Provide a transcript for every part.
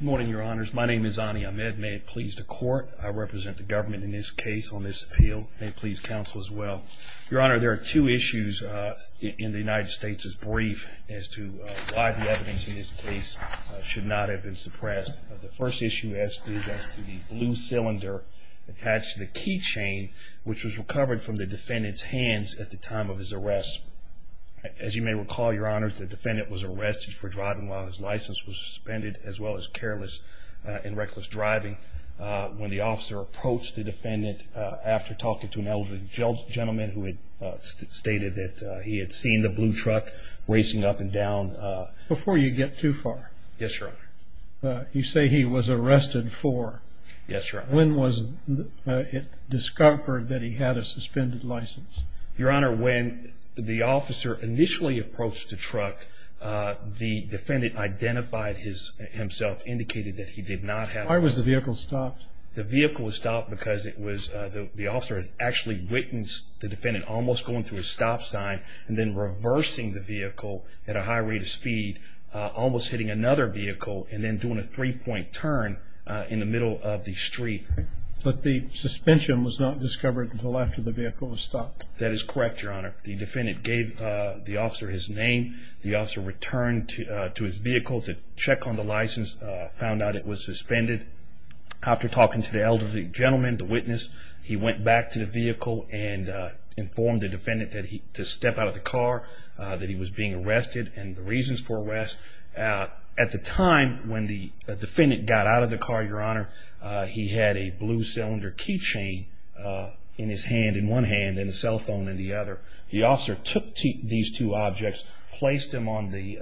Good morning, your honors. My name is Ani Ahmed. May it please the court, I represent the government in this case on this appeal. May it please counsel as well. Your honor, there are two issues in the United States' brief as to why the evidence in this case should not have been suppressed. The first issue is as to the blue cylinder attached to the keychain, which was recovered from the defendant's hands at the time of his arrest. As you may recall, your honors, the defendant was arrested for driving while his license was suspended, as well as careless and reckless driving. When the officer approached the defendant after talking to an elderly gentleman who had stated that he had seen the blue truck racing up and down. Before you get too far. Yes, your honor. You say he was arrested for. Yes, your honor. When was it discovered that he had a suspended license? Your honor, when the officer initially approached the truck, the defendant identified himself, indicated that he did not have. Why was the vehicle stopped? The vehicle was stopped because it was the officer had actually witnessed the defendant almost going through a stop sign and then reversing the vehicle at a high rate of speed, almost hitting another vehicle and then doing a three point turn in the middle of the street. But the suspension was not discovered until after the vehicle was stopped. That is correct, your honor. The defendant gave the officer his name. The officer returned to his vehicle to check on the license, found out it was suspended. After talking to the elderly gentleman, the witness, he went back to the vehicle and informed the defendant that he to step out of the car, that he was being arrested and the reasons for arrest. At the time when the defendant got out of the car, your honor, he had a blue cylinder key chain in his hand, in one hand and a cell phone in the other. The officer took these two objects, placed them on the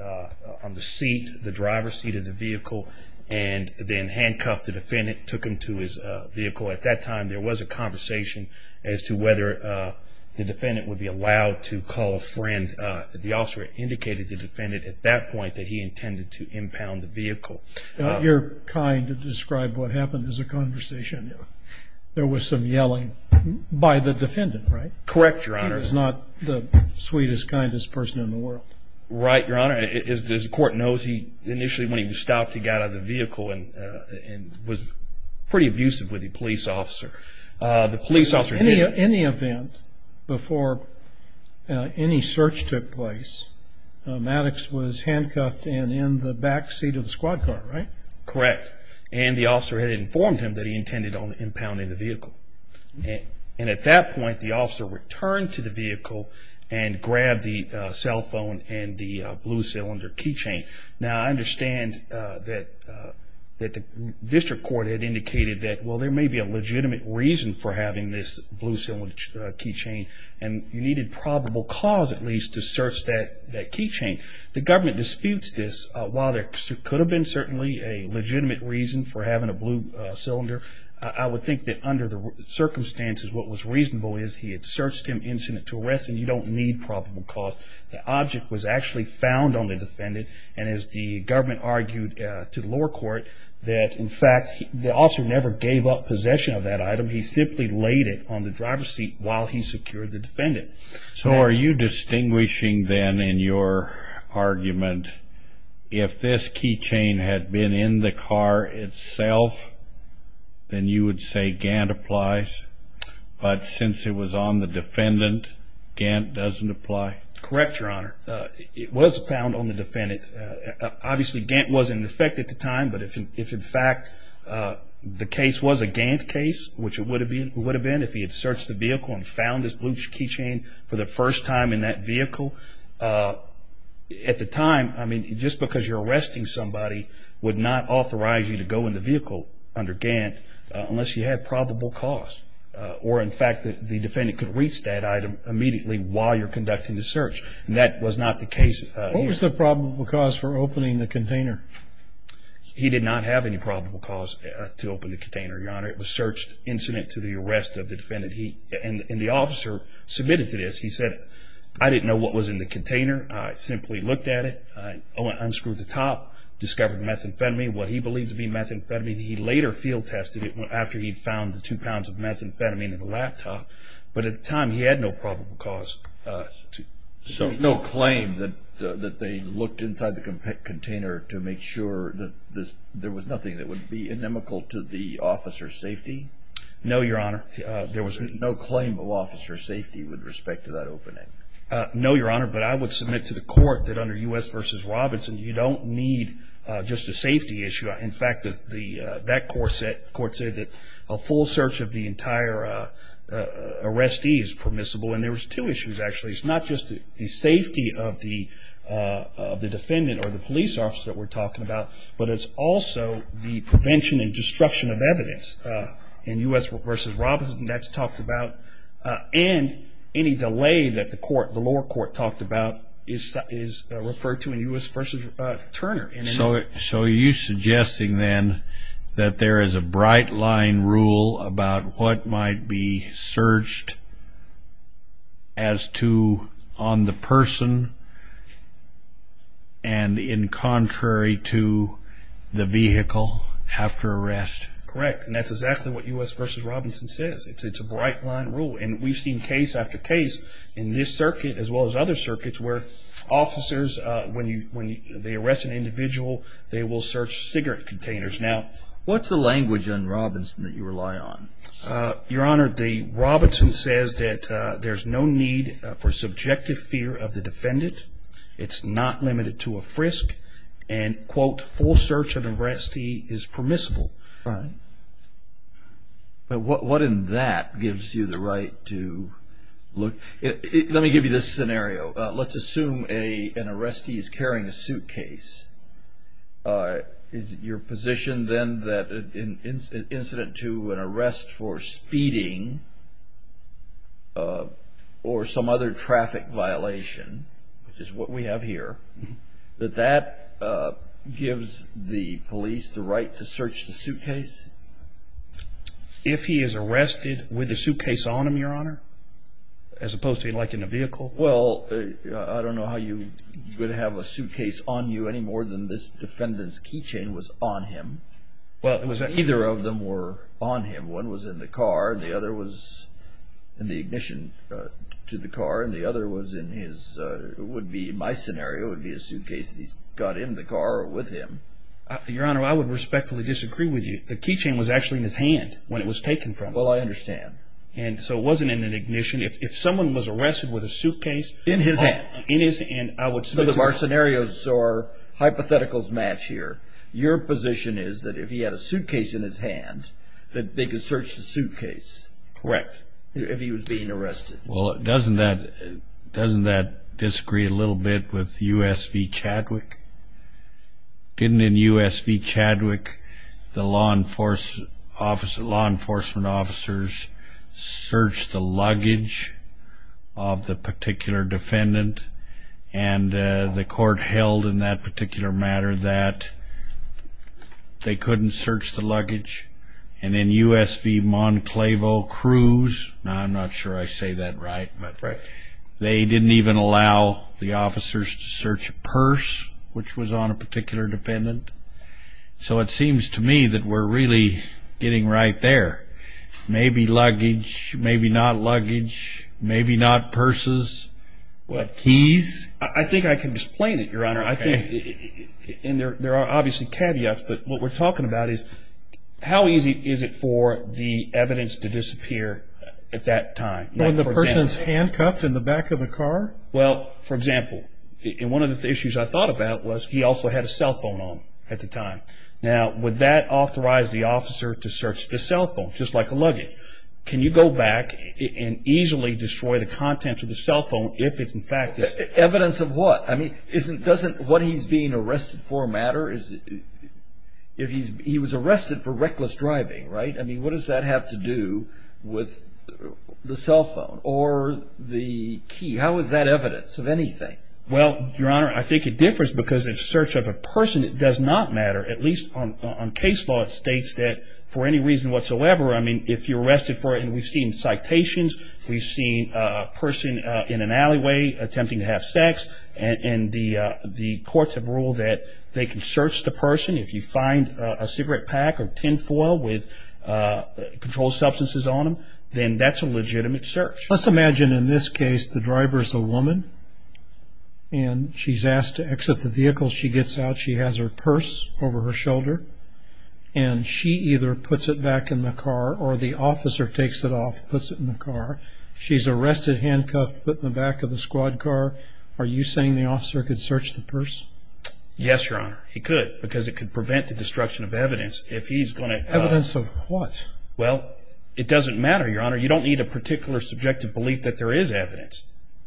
on the seat, the driver's seat of the vehicle, and then handcuffed the defendant, took him to his vehicle. At that time, there was a conversation as to whether the defendant would be allowed to call a friend. The officer indicated to the defendant at that point that he intended to impound the vehicle. You're kind to describe what happened as a conversation. There was some yelling by the defendant, right? Correct, your honor. He was not the sweetest, kindest person in the world. Right, your honor. As the court knows, initially when he was stopped, he got out of the vehicle and was pretty abusive with the police officer. In the event, before any search took place, Maddox was handcuffed and in the back seat of the squad car, right? Correct. And the officer had informed him that he intended on impounding the vehicle. And at that point, the officer returned to the vehicle and grabbed the cell phone and the blue cylinder keychain. Now, I understand that the district court had indicated that, well, there may be a legitimate reason for having this blue cylinder keychain, and you needed probable cause, at least, to search that keychain. The government disputes this. While there could have been certainly a legitimate reason for having a blue cylinder, I would think that under the circumstances, what was reasonable is he had searched him incident to arrest, and you don't need probable cause. The object was actually found on the defendant, and as the government argued to the lower court, that, in fact, the officer never gave up possession of that item. He simply laid it on the driver's seat while he secured the defendant. So are you distinguishing, then, in your argument, if this keychain had been in the car itself, then you would say Gant applies? But since it was on the defendant, Gant doesn't apply? Correct, Your Honor. It was found on the defendant. Obviously, Gant wasn't in effect at the time, but if, in fact, the case was a Gant case, which it would have been, if he had searched the vehicle and found this blue keychain for the first time in that vehicle, at the time, I mean, just because you're arresting somebody would not authorize you to go in the vehicle under Gant unless you had probable cause. Or, in fact, the defendant could reach that item immediately while you're conducting the search, and that was not the case. What was the probable cause for opening the container? He did not have any probable cause to open the container, Your Honor. It was searched incident to the arrest of the defendant, and the officer submitted to this. He said, I didn't know what was in the container. I simply looked at it. I unscrewed the top, discovered methamphetamine, what he believed to be methamphetamine. He later field-tested it after he'd found the two pounds of methamphetamine in the laptop. But at the time, he had no probable cause. There's no claim that they looked inside the container to make sure that there was nothing that would be inimical to the officer's safety? No, Your Honor. There was no claim of officer's safety with respect to that opening? No, Your Honor, but I would submit to the court that under U.S. v. Robinson, you don't need just a safety issue. In fact, that court said that a full search of the entire arrestee is permissible, and there was two issues, actually. It's not just the safety of the defendant or the police officer that we're talking about, but it's also the prevention and destruction of evidence. In U.S. v. Robinson, that's talked about, and any delay that the lower court talked about is referred to in U.S. v. Turner. So you're suggesting, then, that there is a bright-line rule about what might be searched as to on the person and in contrary to the vehicle after arrest? Correct, and that's exactly what U.S. v. Robinson says. It's a bright-line rule, and we've seen case after case in this circuit as well as other circuits where officers, when they arrest an individual, they will search cigarette containers. Now, what's the language on Robinson that you rely on? Your Honor, Robinson says that there's no need for subjective fear of the defendant. It's not limited to a frisk, and, quote, full search of the arrestee is permissible. Right, but what in that gives you the right to look? Let me give you this scenario. Let's assume an arrestee is carrying a suitcase. Is it your position, then, that in incident to an arrest for speeding or some other traffic violation, which is what we have here, that that gives the police the right to search the suitcase? If he is arrested with a suitcase on him, Your Honor, as opposed to, like, in a vehicle? Well, I don't know how you would have a suitcase on you any more than this defendant's key chain was on him. Either of them were on him. One was in the car, and the other was in the ignition to the car, and the other would be, in my scenario, would be a suitcase that he's got in the car or with him. Your Honor, I would respectfully disagree with you. The key chain was actually in his hand when it was taken from him. Well, I understand. And so it wasn't in an ignition. If someone was arrested with a suitcase in his hand, and I would submit to you. So our scenarios or hypotheticals match here. Your position is that if he had a suitcase in his hand, that they could search the suitcase. Correct. If he was being arrested. Well, doesn't that disagree a little bit with US v. Chadwick? Didn't in US v. Chadwick the law enforcement officers search the luggage of the particular defendant? And the court held in that particular matter that they couldn't search the luggage. And in US v. Monclavo-Cruz, I'm not sure I say that right, they didn't even allow the officers to search a purse which was on a particular defendant. So it seems to me that we're really getting right there. Maybe luggage, maybe not luggage, maybe not purses. Keys? I think I can explain it, Your Honor. And there are obviously caveats, but what we're talking about is, how easy is it for the evidence to disappear at that time? When the person's handcuffed in the back of the car? Well, for example, one of the issues I thought about was he also had a cell phone on him at the time. Now, would that authorize the officer to search the cell phone, just like a luggage? Can you go back and easily destroy the contents of the cell phone if it's in fact this? Evidence of what? I mean, doesn't what he's being arrested for matter? He was arrested for reckless driving, right? I mean, what does that have to do with the cell phone or the key? How is that evidence of anything? Well, Your Honor, I think it differs because in search of a person, it does not matter. At least on case law, it states that for any reason whatsoever, I mean, if you're arrested for it, and we've seen citations, we've seen a person in an alleyway attempting to have sex, and the courts have ruled that they can search the person. If you find a cigarette pack or tin foil with controlled substances on them, then that's a legitimate search. Let's imagine in this case the driver is a woman, and she's asked to exit the vehicle. She gets out. She has her purse over her shoulder, and she either puts it back in the car or the officer takes it off and puts it in the car. She's arrested, handcuffed, put in the back of the squad car. Are you saying the officer could search the purse? Yes, Your Honor. He could because it could prevent the destruction of evidence if he's going to... Evidence of what? Well, it doesn't matter, Your Honor. You don't need a particular subjective belief that there is evidence.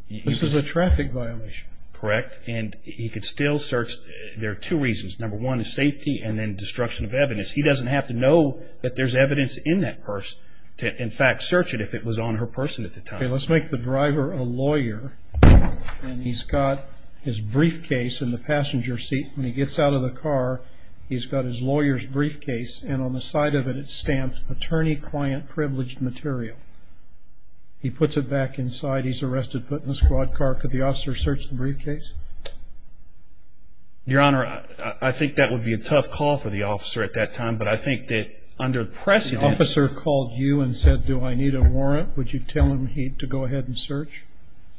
This is a traffic violation. Correct, and he could still search. There are two reasons. Number one is safety, and then destruction of evidence. He doesn't have to know that there's evidence in that purse to, in fact, search it if it was on her purse at the time. Okay, let's make the driver a lawyer, and he's got his briefcase in the passenger seat. When he gets out of the car, he's got his lawyer's briefcase, and on the side of it it's stamped, Attorney Client Privileged Material. He puts it back inside. He's arrested, put in the squad car. Could the officer search the briefcase? Your Honor, I think that would be a tough call for the officer at that time, but I think that under the precedent... If he called you and said, do I need a warrant, would you tell him to go ahead and search?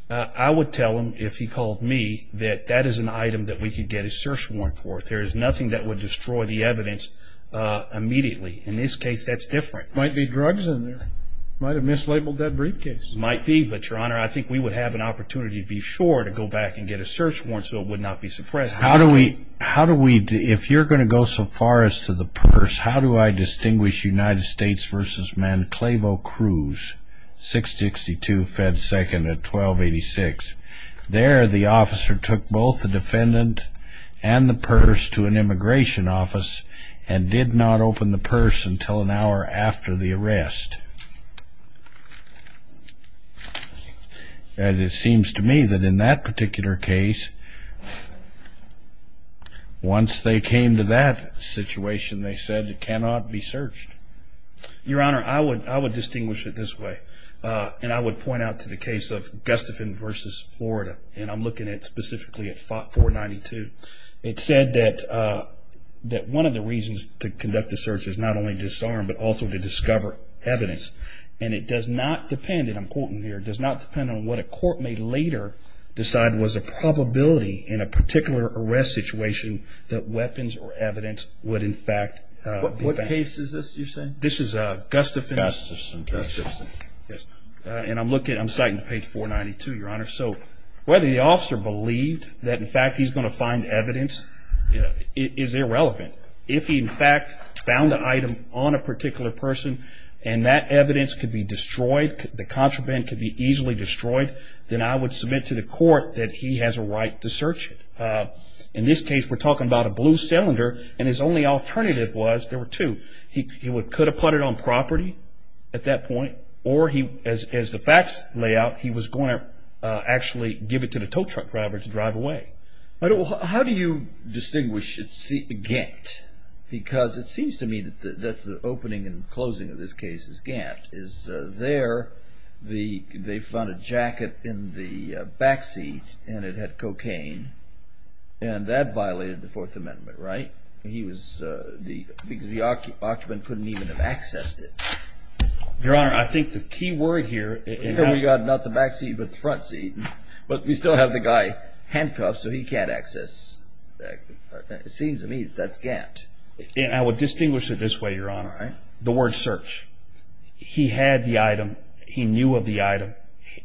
I would tell him, if he called me, that that is an item that we could get a search warrant for. There is nothing that would destroy the evidence immediately. In this case, that's different. Might be drugs in there. Might have mislabeled that briefcase. Might be, but, Your Honor, I think we would have an opportunity, to be sure, to go back and get a search warrant so it would not be suppressed. How do we... If you're going to go so far as to the purse, how do I distinguish United States v. Manclavo Cruz, 662 Fed 2nd at 1286? There, the officer took both the defendant and the purse to an immigration office and did not open the purse until an hour after the arrest. And it seems to me that in that particular case, once they came to that situation, they said it cannot be searched. Your Honor, I would distinguish it this way, and I would point out to the case of Gustafson v. Florida, and I'm looking at specifically at 492. It said that one of the reasons to conduct the search is not only to disarm, but also to discover evidence. And it does not depend, and I'm quoting here, it does not depend on what a court may later decide was a probability in a particular arrest situation that weapons or evidence would, in fact... What case is this you're saying? This is Gustafson v. Gustafson. And I'm citing page 492, Your Honor. So whether the officer believed that, in fact, he's going to find evidence is irrelevant. If he, in fact, found an item on a particular person, and that evidence could be destroyed, the contraband could be easily destroyed, then I would submit to the court that he has a right to search it. In this case, we're talking about a blue cylinder, and his only alternative was there were two. He could have put it on property at that point, or as the facts lay out, he was going to actually give it to the tow truck driver to drive away. But how do you distinguish Gant? Because it seems to me that the opening and closing of this case is Gant. Is there, they found a jacket in the back seat, and it had cocaine, and that violated the Fourth Amendment, right? He was the, because the occupant couldn't even have accessed it. Your Honor, I think the key word here... And we got not the back seat, but the front seat. But we still have the guy handcuffed, so he can't access. It seems to me that's Gant. I would distinguish it this way, Your Honor. All right. The word search. He had the item. He knew of the item.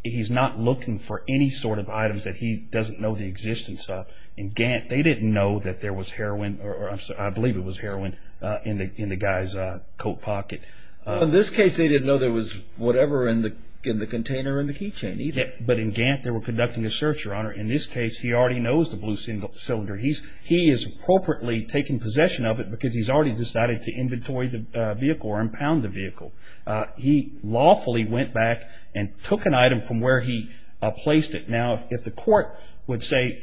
He's not looking for any sort of items that he doesn't know the existence of. In Gant, they didn't know that there was heroin, or I believe it was heroin, in the guy's coat pocket. Well, in this case, they didn't know there was whatever in the container in the key chain either. But in Gant, they were conducting a search, Your Honor. In this case, he already knows the blue cylinder. He is appropriately taking possession of it, because he's already decided to inventory the vehicle or impound the vehicle. He lawfully went back and took an item from where he placed it. Now, if the court would say,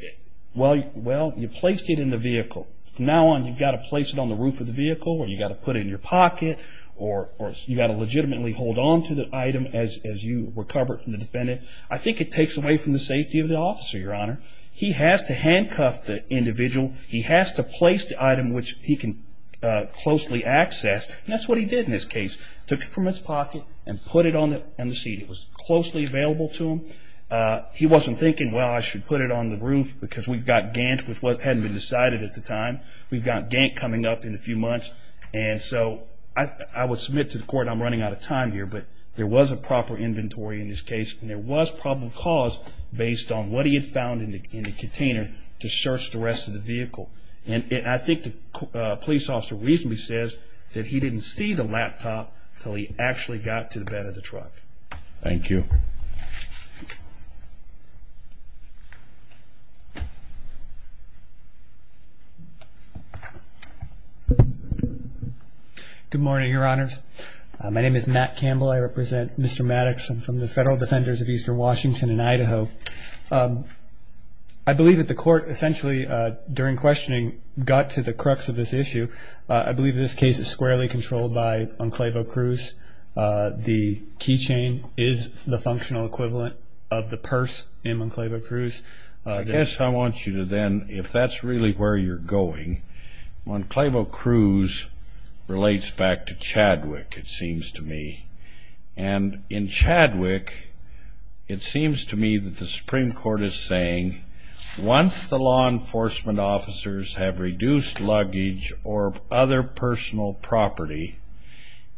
well, you placed it in the vehicle. From now on, you've got to place it on the roof of the vehicle, or you've got to put it in your pocket, or you've got to legitimately hold on to the item as you recover it from the defendant. I think it takes away from the safety of the officer, Your Honor. He has to handcuff the individual. He has to place the item which he can closely access, and that's what he did in this case. He took it from his pocket and put it on the seat. It was closely available to him. He wasn't thinking, well, I should put it on the roof, because we've got Gant with what hadn't been decided at the time. We've got Gant coming up in a few months. And so I would submit to the court I'm running out of time here, but there was a proper inventory in this case, and there was probable cause based on what he had found in the container to search the rest of the vehicle. And I think the police officer reasonably says that he didn't see the laptop until he actually got to the bed of the truck. Thank you. Good morning, Your Honors. My name is Matt Campbell. I represent Mr. Maddox. I'm from the Federal Defenders of Eastern Washington in Idaho. I believe that the court essentially, during questioning, got to the crux of this issue. I believe this case is squarely controlled by Enclavo-Cruz. The keychain is the functional equivalent of the purse in Enclavo-Cruz. I guess I want you to then, if that's really where you're going, Enclavo-Cruz relates back to Chadwick, it seems to me. And in Chadwick, it seems to me that the Supreme Court is saying, once the law enforcement officers have reduced luggage or other personal property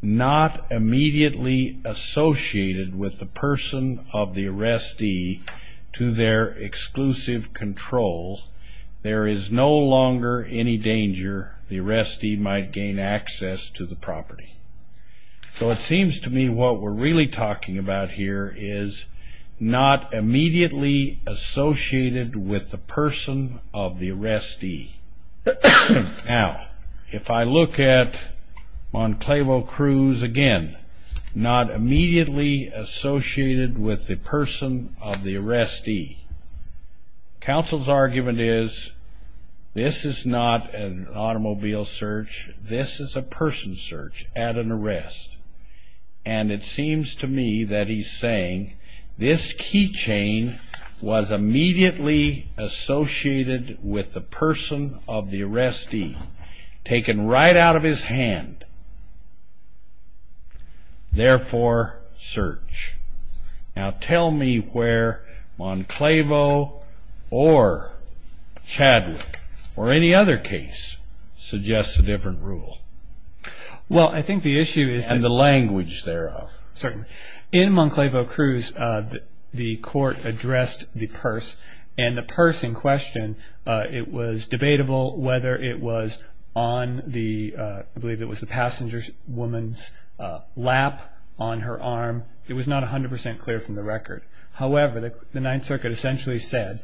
not immediately associated with the person of the arrestee to their exclusive control, there is no longer any danger the arrestee might gain access to the property. So it seems to me what we're really talking about here is not immediately associated with the person of the arrestee. Now, if I look at Enclavo-Cruz again, not immediately associated with the person of the arrestee, counsel's argument is this is not an automobile search. This is a person search at an arrest. And it seems to me that he's saying this keychain was immediately associated with the person of the arrestee, taken right out of his hand, therefore search. Now, tell me where Enclavo or Chadwick or any other case suggests a different rule. Well, I think the issue is... And the language thereof. Certainly. In Enclavo-Cruz, the court addressed the purse. And the purse in question, it was debatable whether it was on the... I believe it was the passenger woman's lap on her arm. It was not 100% clear from the record. However, the Ninth Circuit essentially said,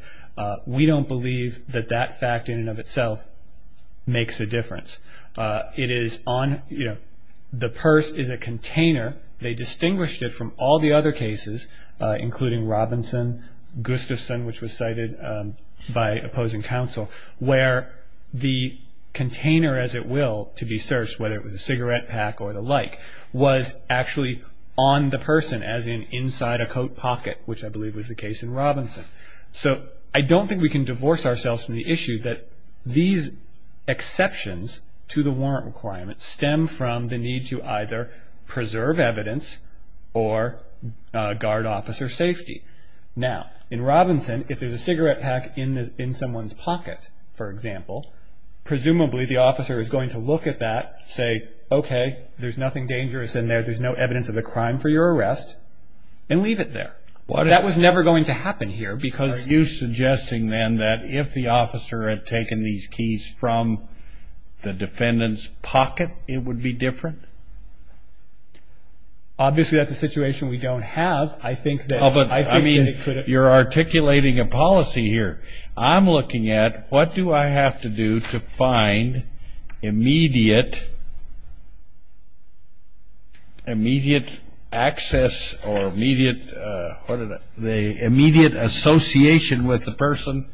we don't believe that that fact in and of itself makes a difference. It is on... The purse is a container. They distinguished it from all the other cases, including Robinson, Gustafson, which was cited by opposing counsel, where the container, as it will, to be searched, whether it was a cigarette pack or the like, was actually on the person, as in inside a coat pocket, which I believe was the case in Robinson. So I don't think we can divorce ourselves from the issue that these exceptions to the warrant requirements stem from the need to either preserve evidence or guard officer safety. Now, in Robinson, if there's a cigarette pack in someone's pocket, for example, presumably the officer is going to look at that, say, okay, there's nothing dangerous in there, there's no evidence of the crime for your arrest, and leave it there. That was never going to happen here because... Are you suggesting then that if the officer had taken these keys from the defendant's pocket, it would be different? Obviously, that's a situation we don't have. I think that... Oh, but I mean, you're articulating a policy here. I'm looking at what do I have to do to find immediate access or immediate association with the person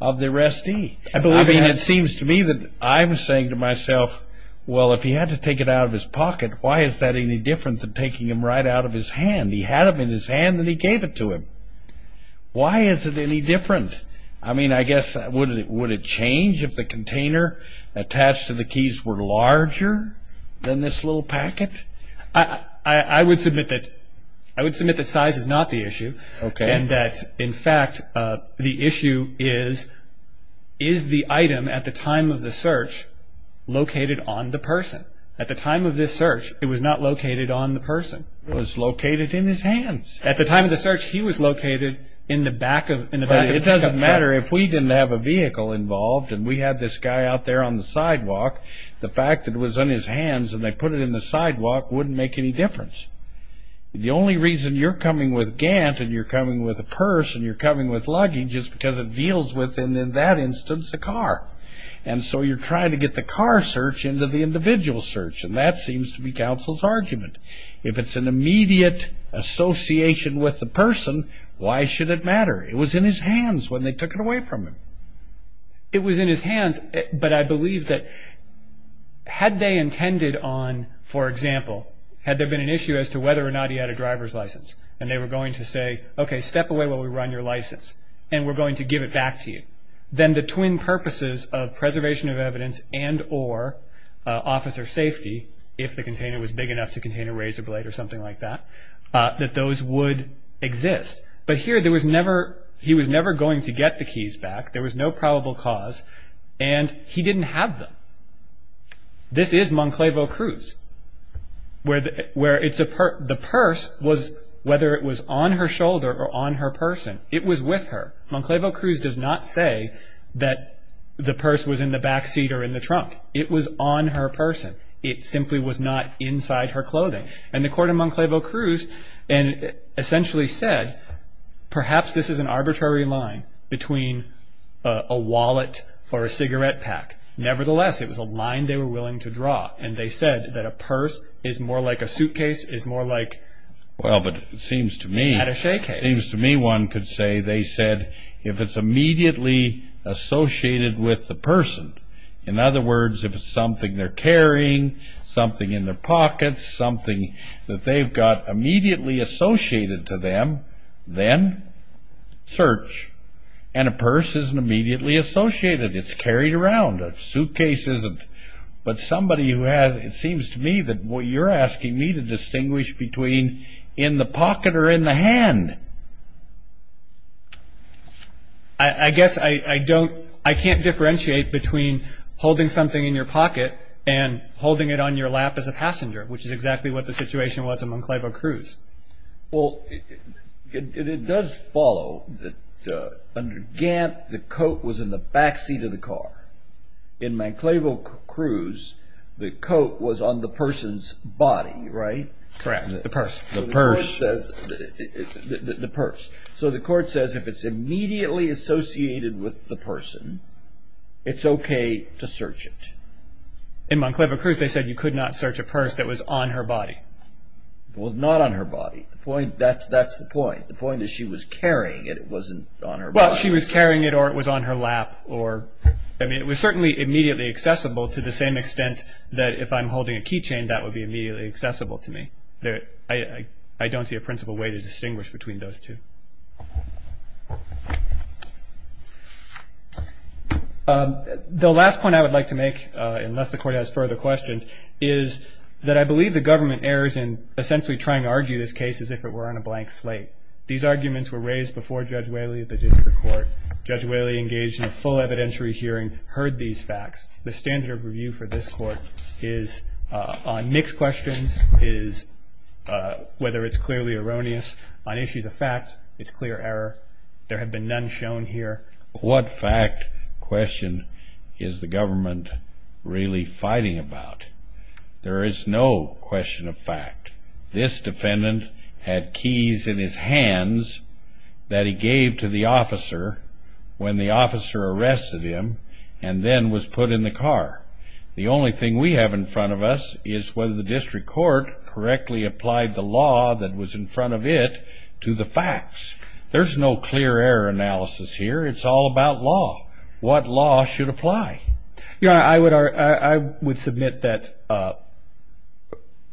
of the arrestee? I mean, it seems to me that I'm saying to myself, well, if he had to take it out of his pocket, why is that any different than taking them right out of his hand? He had them in his hand, and he gave it to him. Why is it any different? I mean, I guess, would it change if the container attached to the keys were larger than this little packet? I would submit that size is not the issue. Okay. And that, in fact, the issue is, is the item at the time of the search located on the person? At the time of this search, it was not located on the person. It was located in his hands. At the time of the search, he was located in the back of the truck. It doesn't matter if we didn't have a vehicle involved and we had this guy out there on the sidewalk. The fact that it was on his hands and they put it in the sidewalk wouldn't make any difference. The only reason you're coming with Gant and you're coming with a purse and you're coming with luggage is because it deals with, in that instance, a car. And so you're trying to get the car search into the individual search, and that seems to be counsel's argument. If it's an immediate association with the person, why should it matter? It was in his hands when they took it away from him. It was in his hands, but I believe that had they intended on, for example, had there been an issue as to whether or not he had a driver's license and they were going to say, okay, step away while we run your license and we're going to give it back to you, then the twin purposes of preservation of evidence and or officer safety, if the container was big enough to contain a razor blade or something like that, that those would exist. But here he was never going to get the keys back. There was no probable cause, and he didn't have them. This is Monclavo-Cruz, where the purse was, whether it was on her shoulder or on her person, it was with her. Monclavo-Cruz does not say that the purse was in the back seat or in the trunk. It was on her person. It simply was not inside her clothing. And the court of Monclavo-Cruz essentially said, perhaps this is an arbitrary line between a wallet or a cigarette pack. Nevertheless, it was a line they were willing to draw, and they said that a purse is more like a suitcase, is more like an attaché case. Well, but it seems to me one could say they said, if it's immediately associated with the person, in other words, if it's something they're carrying, something in their pockets, something that they've got immediately associated to them, then search. And a purse isn't immediately associated. It's carried around. A suitcase isn't. But somebody who has, it seems to me that what you're asking me to distinguish between in the pocket or in the hand. I guess I don't, I can't differentiate between holding something in your pocket and holding it on your lap as a passenger, which is exactly what the situation was in Monclavo-Cruz. Well, it does follow that under Gant, the coat was in the back seat of the car. In Monclavo-Cruz, the coat was on the person's body, right? Correct. The purse. The purse. So the court says if it's immediately associated with the person, it's okay to search it. In Monclavo-Cruz, they said you could not search a purse that was on her body. It was not on her body. That's the point. The point is she was carrying it. It wasn't on her body. Well, she was carrying it or it was on her lap or, I mean, it was certainly immediately accessible to the same extent that if I'm holding a key chain, that would be immediately accessible to me. I don't see a principal way to distinguish between those two. The last point I would like to make, unless the Court has further questions, is that I believe the government errs in essentially trying to argue this case as if it were on a blank slate. These arguments were raised before Judge Whaley at the district court. Judge Whaley engaged in a full evidentiary hearing, heard these facts. The standard of review for this Court is on mixed questions, is whether it's clearly erroneous on issues of fact, it's clear error. There have been none shown here. What fact question is the government really fighting about? There is no question of fact. This defendant had keys in his hands that he gave to the officer when the officer arrested him and then was put in the car. The only thing we have in front of us is whether the district court correctly applied the law that was in front of it to the facts. There's no clear error analysis here. It's all about law, what law should apply. I would submit that,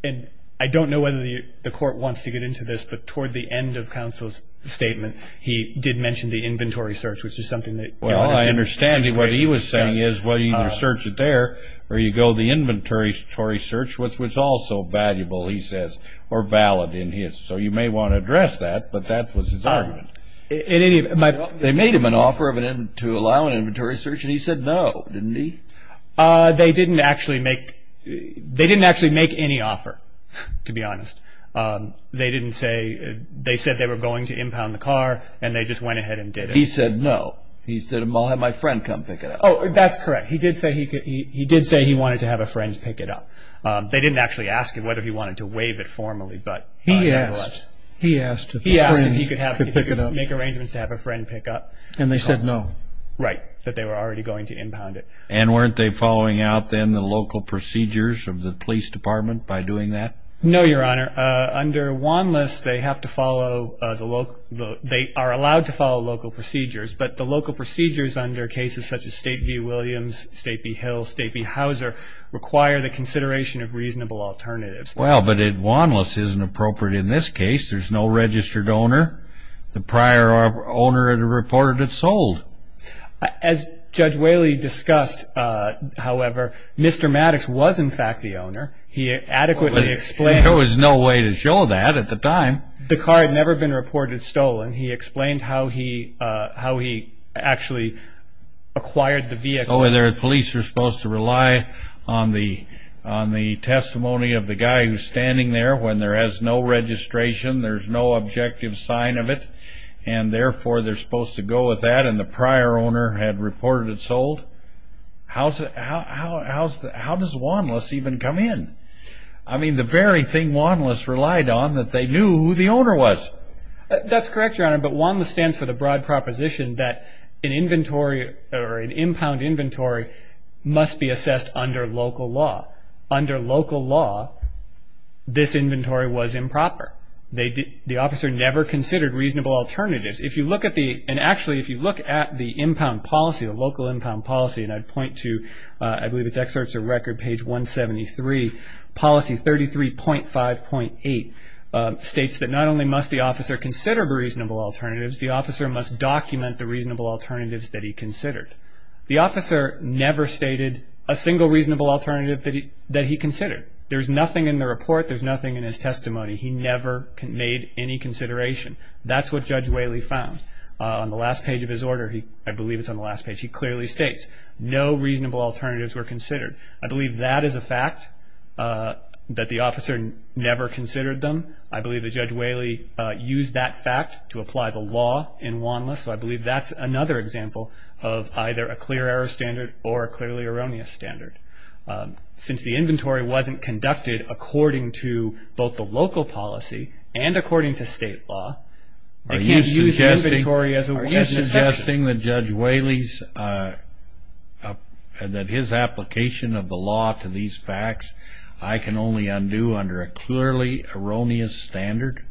and I don't know whether the Court wants to get into this, but toward the end of counsel's statement, he did mention the inventory search, which is something that I understand. Well, I understand what he was saying is, well, you either search it there or you go to the inventory search, which was also valuable, he says, or valid in his. So you may want to address that, but that was his argument. They made him an offer to allow an inventory search, and he said no, didn't he? They didn't actually make any offer, to be honest. They said they were going to impound the car, and they just went ahead and did it. He said no. He said, I'll have my friend come pick it up. Oh, that's correct. He did say he wanted to have a friend pick it up. They didn't actually ask him whether he wanted to waive it formally, but nevertheless. He asked. He asked if he could make arrangements to have a friend pick up the car. And they said no. Right, that they were already going to impound it. And weren't they following out, then, the local procedures of the police department by doing that? No, Your Honor. Under Wanlis, they are allowed to follow local procedures, but the local procedures under cases such as State v. Williams, State v. Hill, State v. Hauser, require the consideration of reasonable alternatives. Well, but Wanlis isn't appropriate in this case. There's no registered owner. The prior owner had reported it sold. As Judge Whaley discussed, however, Mr. Maddox was, in fact, the owner. He adequately explained. There was no way to show that at the time. The car had never been reported stolen. He explained how he actually acquired the vehicle. Oh, and the police are supposed to rely on the testimony of the guy who's standing there when there is no registration, there's no objective sign of it, and therefore they're supposed to go with that, and the prior owner had reported it sold? How does Wanlis even come in? I mean, the very thing Wanlis relied on, that they knew who the owner was. That's correct, Your Honor, but Wanlis stands for the broad proposition that an inventory or an impound inventory must be assessed under local law. Under local law, this inventory was improper. The officer never considered reasonable alternatives. If you look at the impound policy, the local impound policy, and I'd point to, I believe it's excerpts of record, page 173, policy 33.5.8, states that not only must the officer consider reasonable alternatives, the officer must document the reasonable alternatives that he considered. The officer never stated a single reasonable alternative that he considered. There's nothing in the report. There's nothing in his testimony. He never made any consideration. That's what Judge Whaley found. On the last page of his order, I believe it's on the last page, he clearly states, no reasonable alternatives were considered. I believe that is a fact, that the officer never considered them. I believe that Judge Whaley used that fact to apply the law in Wanlis, so I believe that's another example of either a clear error standard or a clearly erroneous standard. Since the inventory wasn't conducted according to both the local policy and according to state law, they can't use the inventory as a standard. Are you suggesting that Judge Whaley's, that his application of the law to these facts, I can only undo under a clearly erroneous standard?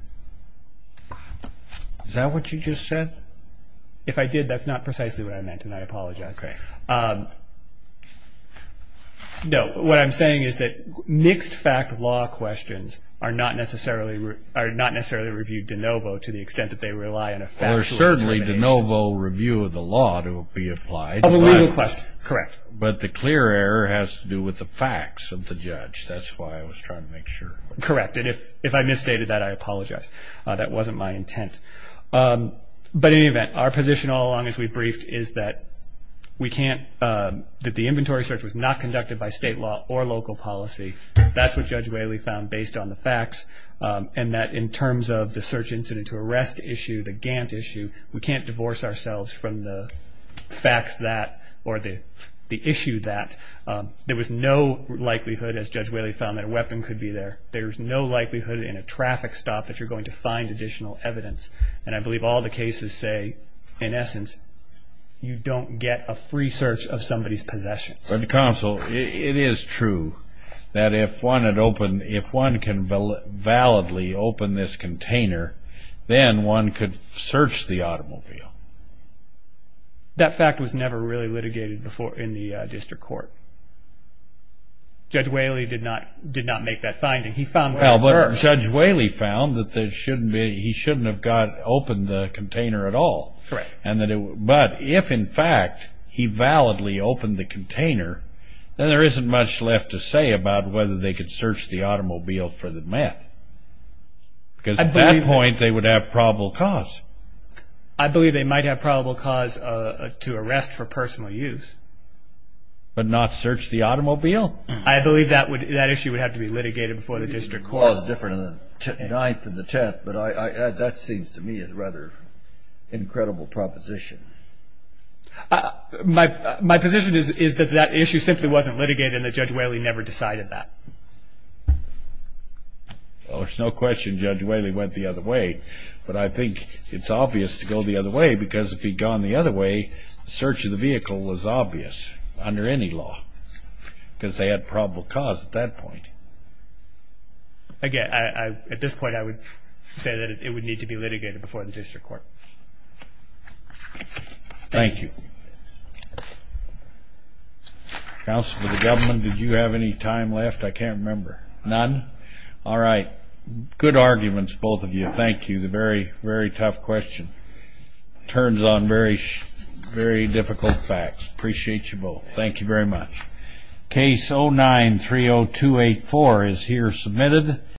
Is that what you just said? If I did, that's not precisely what I meant, and I apologize. Okay. No, what I'm saying is that mixed fact law questions are not necessarily reviewed de novo to the extent that they rely on a factual information. Well, they're certainly de novo review of the law to be applied. Of a legal question, correct. But the clear error has to do with the facts of the judge. That's why I was trying to make sure. Correct, and if I misstated that, I apologize. That wasn't my intent. But in any event, our position all along as we briefed is that we can't, that the inventory search was not conducted by state law or local policy. That's what Judge Whaley found based on the facts, and that in terms of the search incident to arrest issue, the Gantt issue, we can't divorce ourselves from the facts that, or the issue that. There was no likelihood, as Judge Whaley found, that a weapon could be there. There's no likelihood in a traffic stop that you're going to find additional evidence, and I believe all the cases say, in essence, you don't get a free search of somebody's possessions. But Counsel, it is true that if one can validly open this container, then one could search the automobile. That fact was never really litigated in the district court. Judge Whaley did not make that finding. He found what occurred. Well, but Judge Whaley found that he shouldn't have opened the container at all. Correct. But if, in fact, he validly opened the container, then there isn't much left to say about whether they could search the automobile for the meth. Because at that point, they would have probable cause. I believe they might have probable cause to arrest for personal use. But not search the automobile? I believe that issue would have to be litigated before the district court. The law is different in the Ninth and the Tenth, but that seems to me a rather incredible proposition. My position is that that issue simply wasn't litigated and that Judge Whaley never decided that. Well, there's no question Judge Whaley went the other way, but I think it's obvious to go the other way because if he'd gone the other way, the search of the vehicle was obvious under any law because they had probable cause at that point. Again, at this point, I would say that it would need to be litigated before the district court. Thank you. Counsel for the government, did you have any time left? I can't remember. None? All right. Good arguments, both of you. Thank you. Very, very tough question. Turns on very difficult facts. Appreciate you both. Thank you very much. Case 09-30284 is here submitted.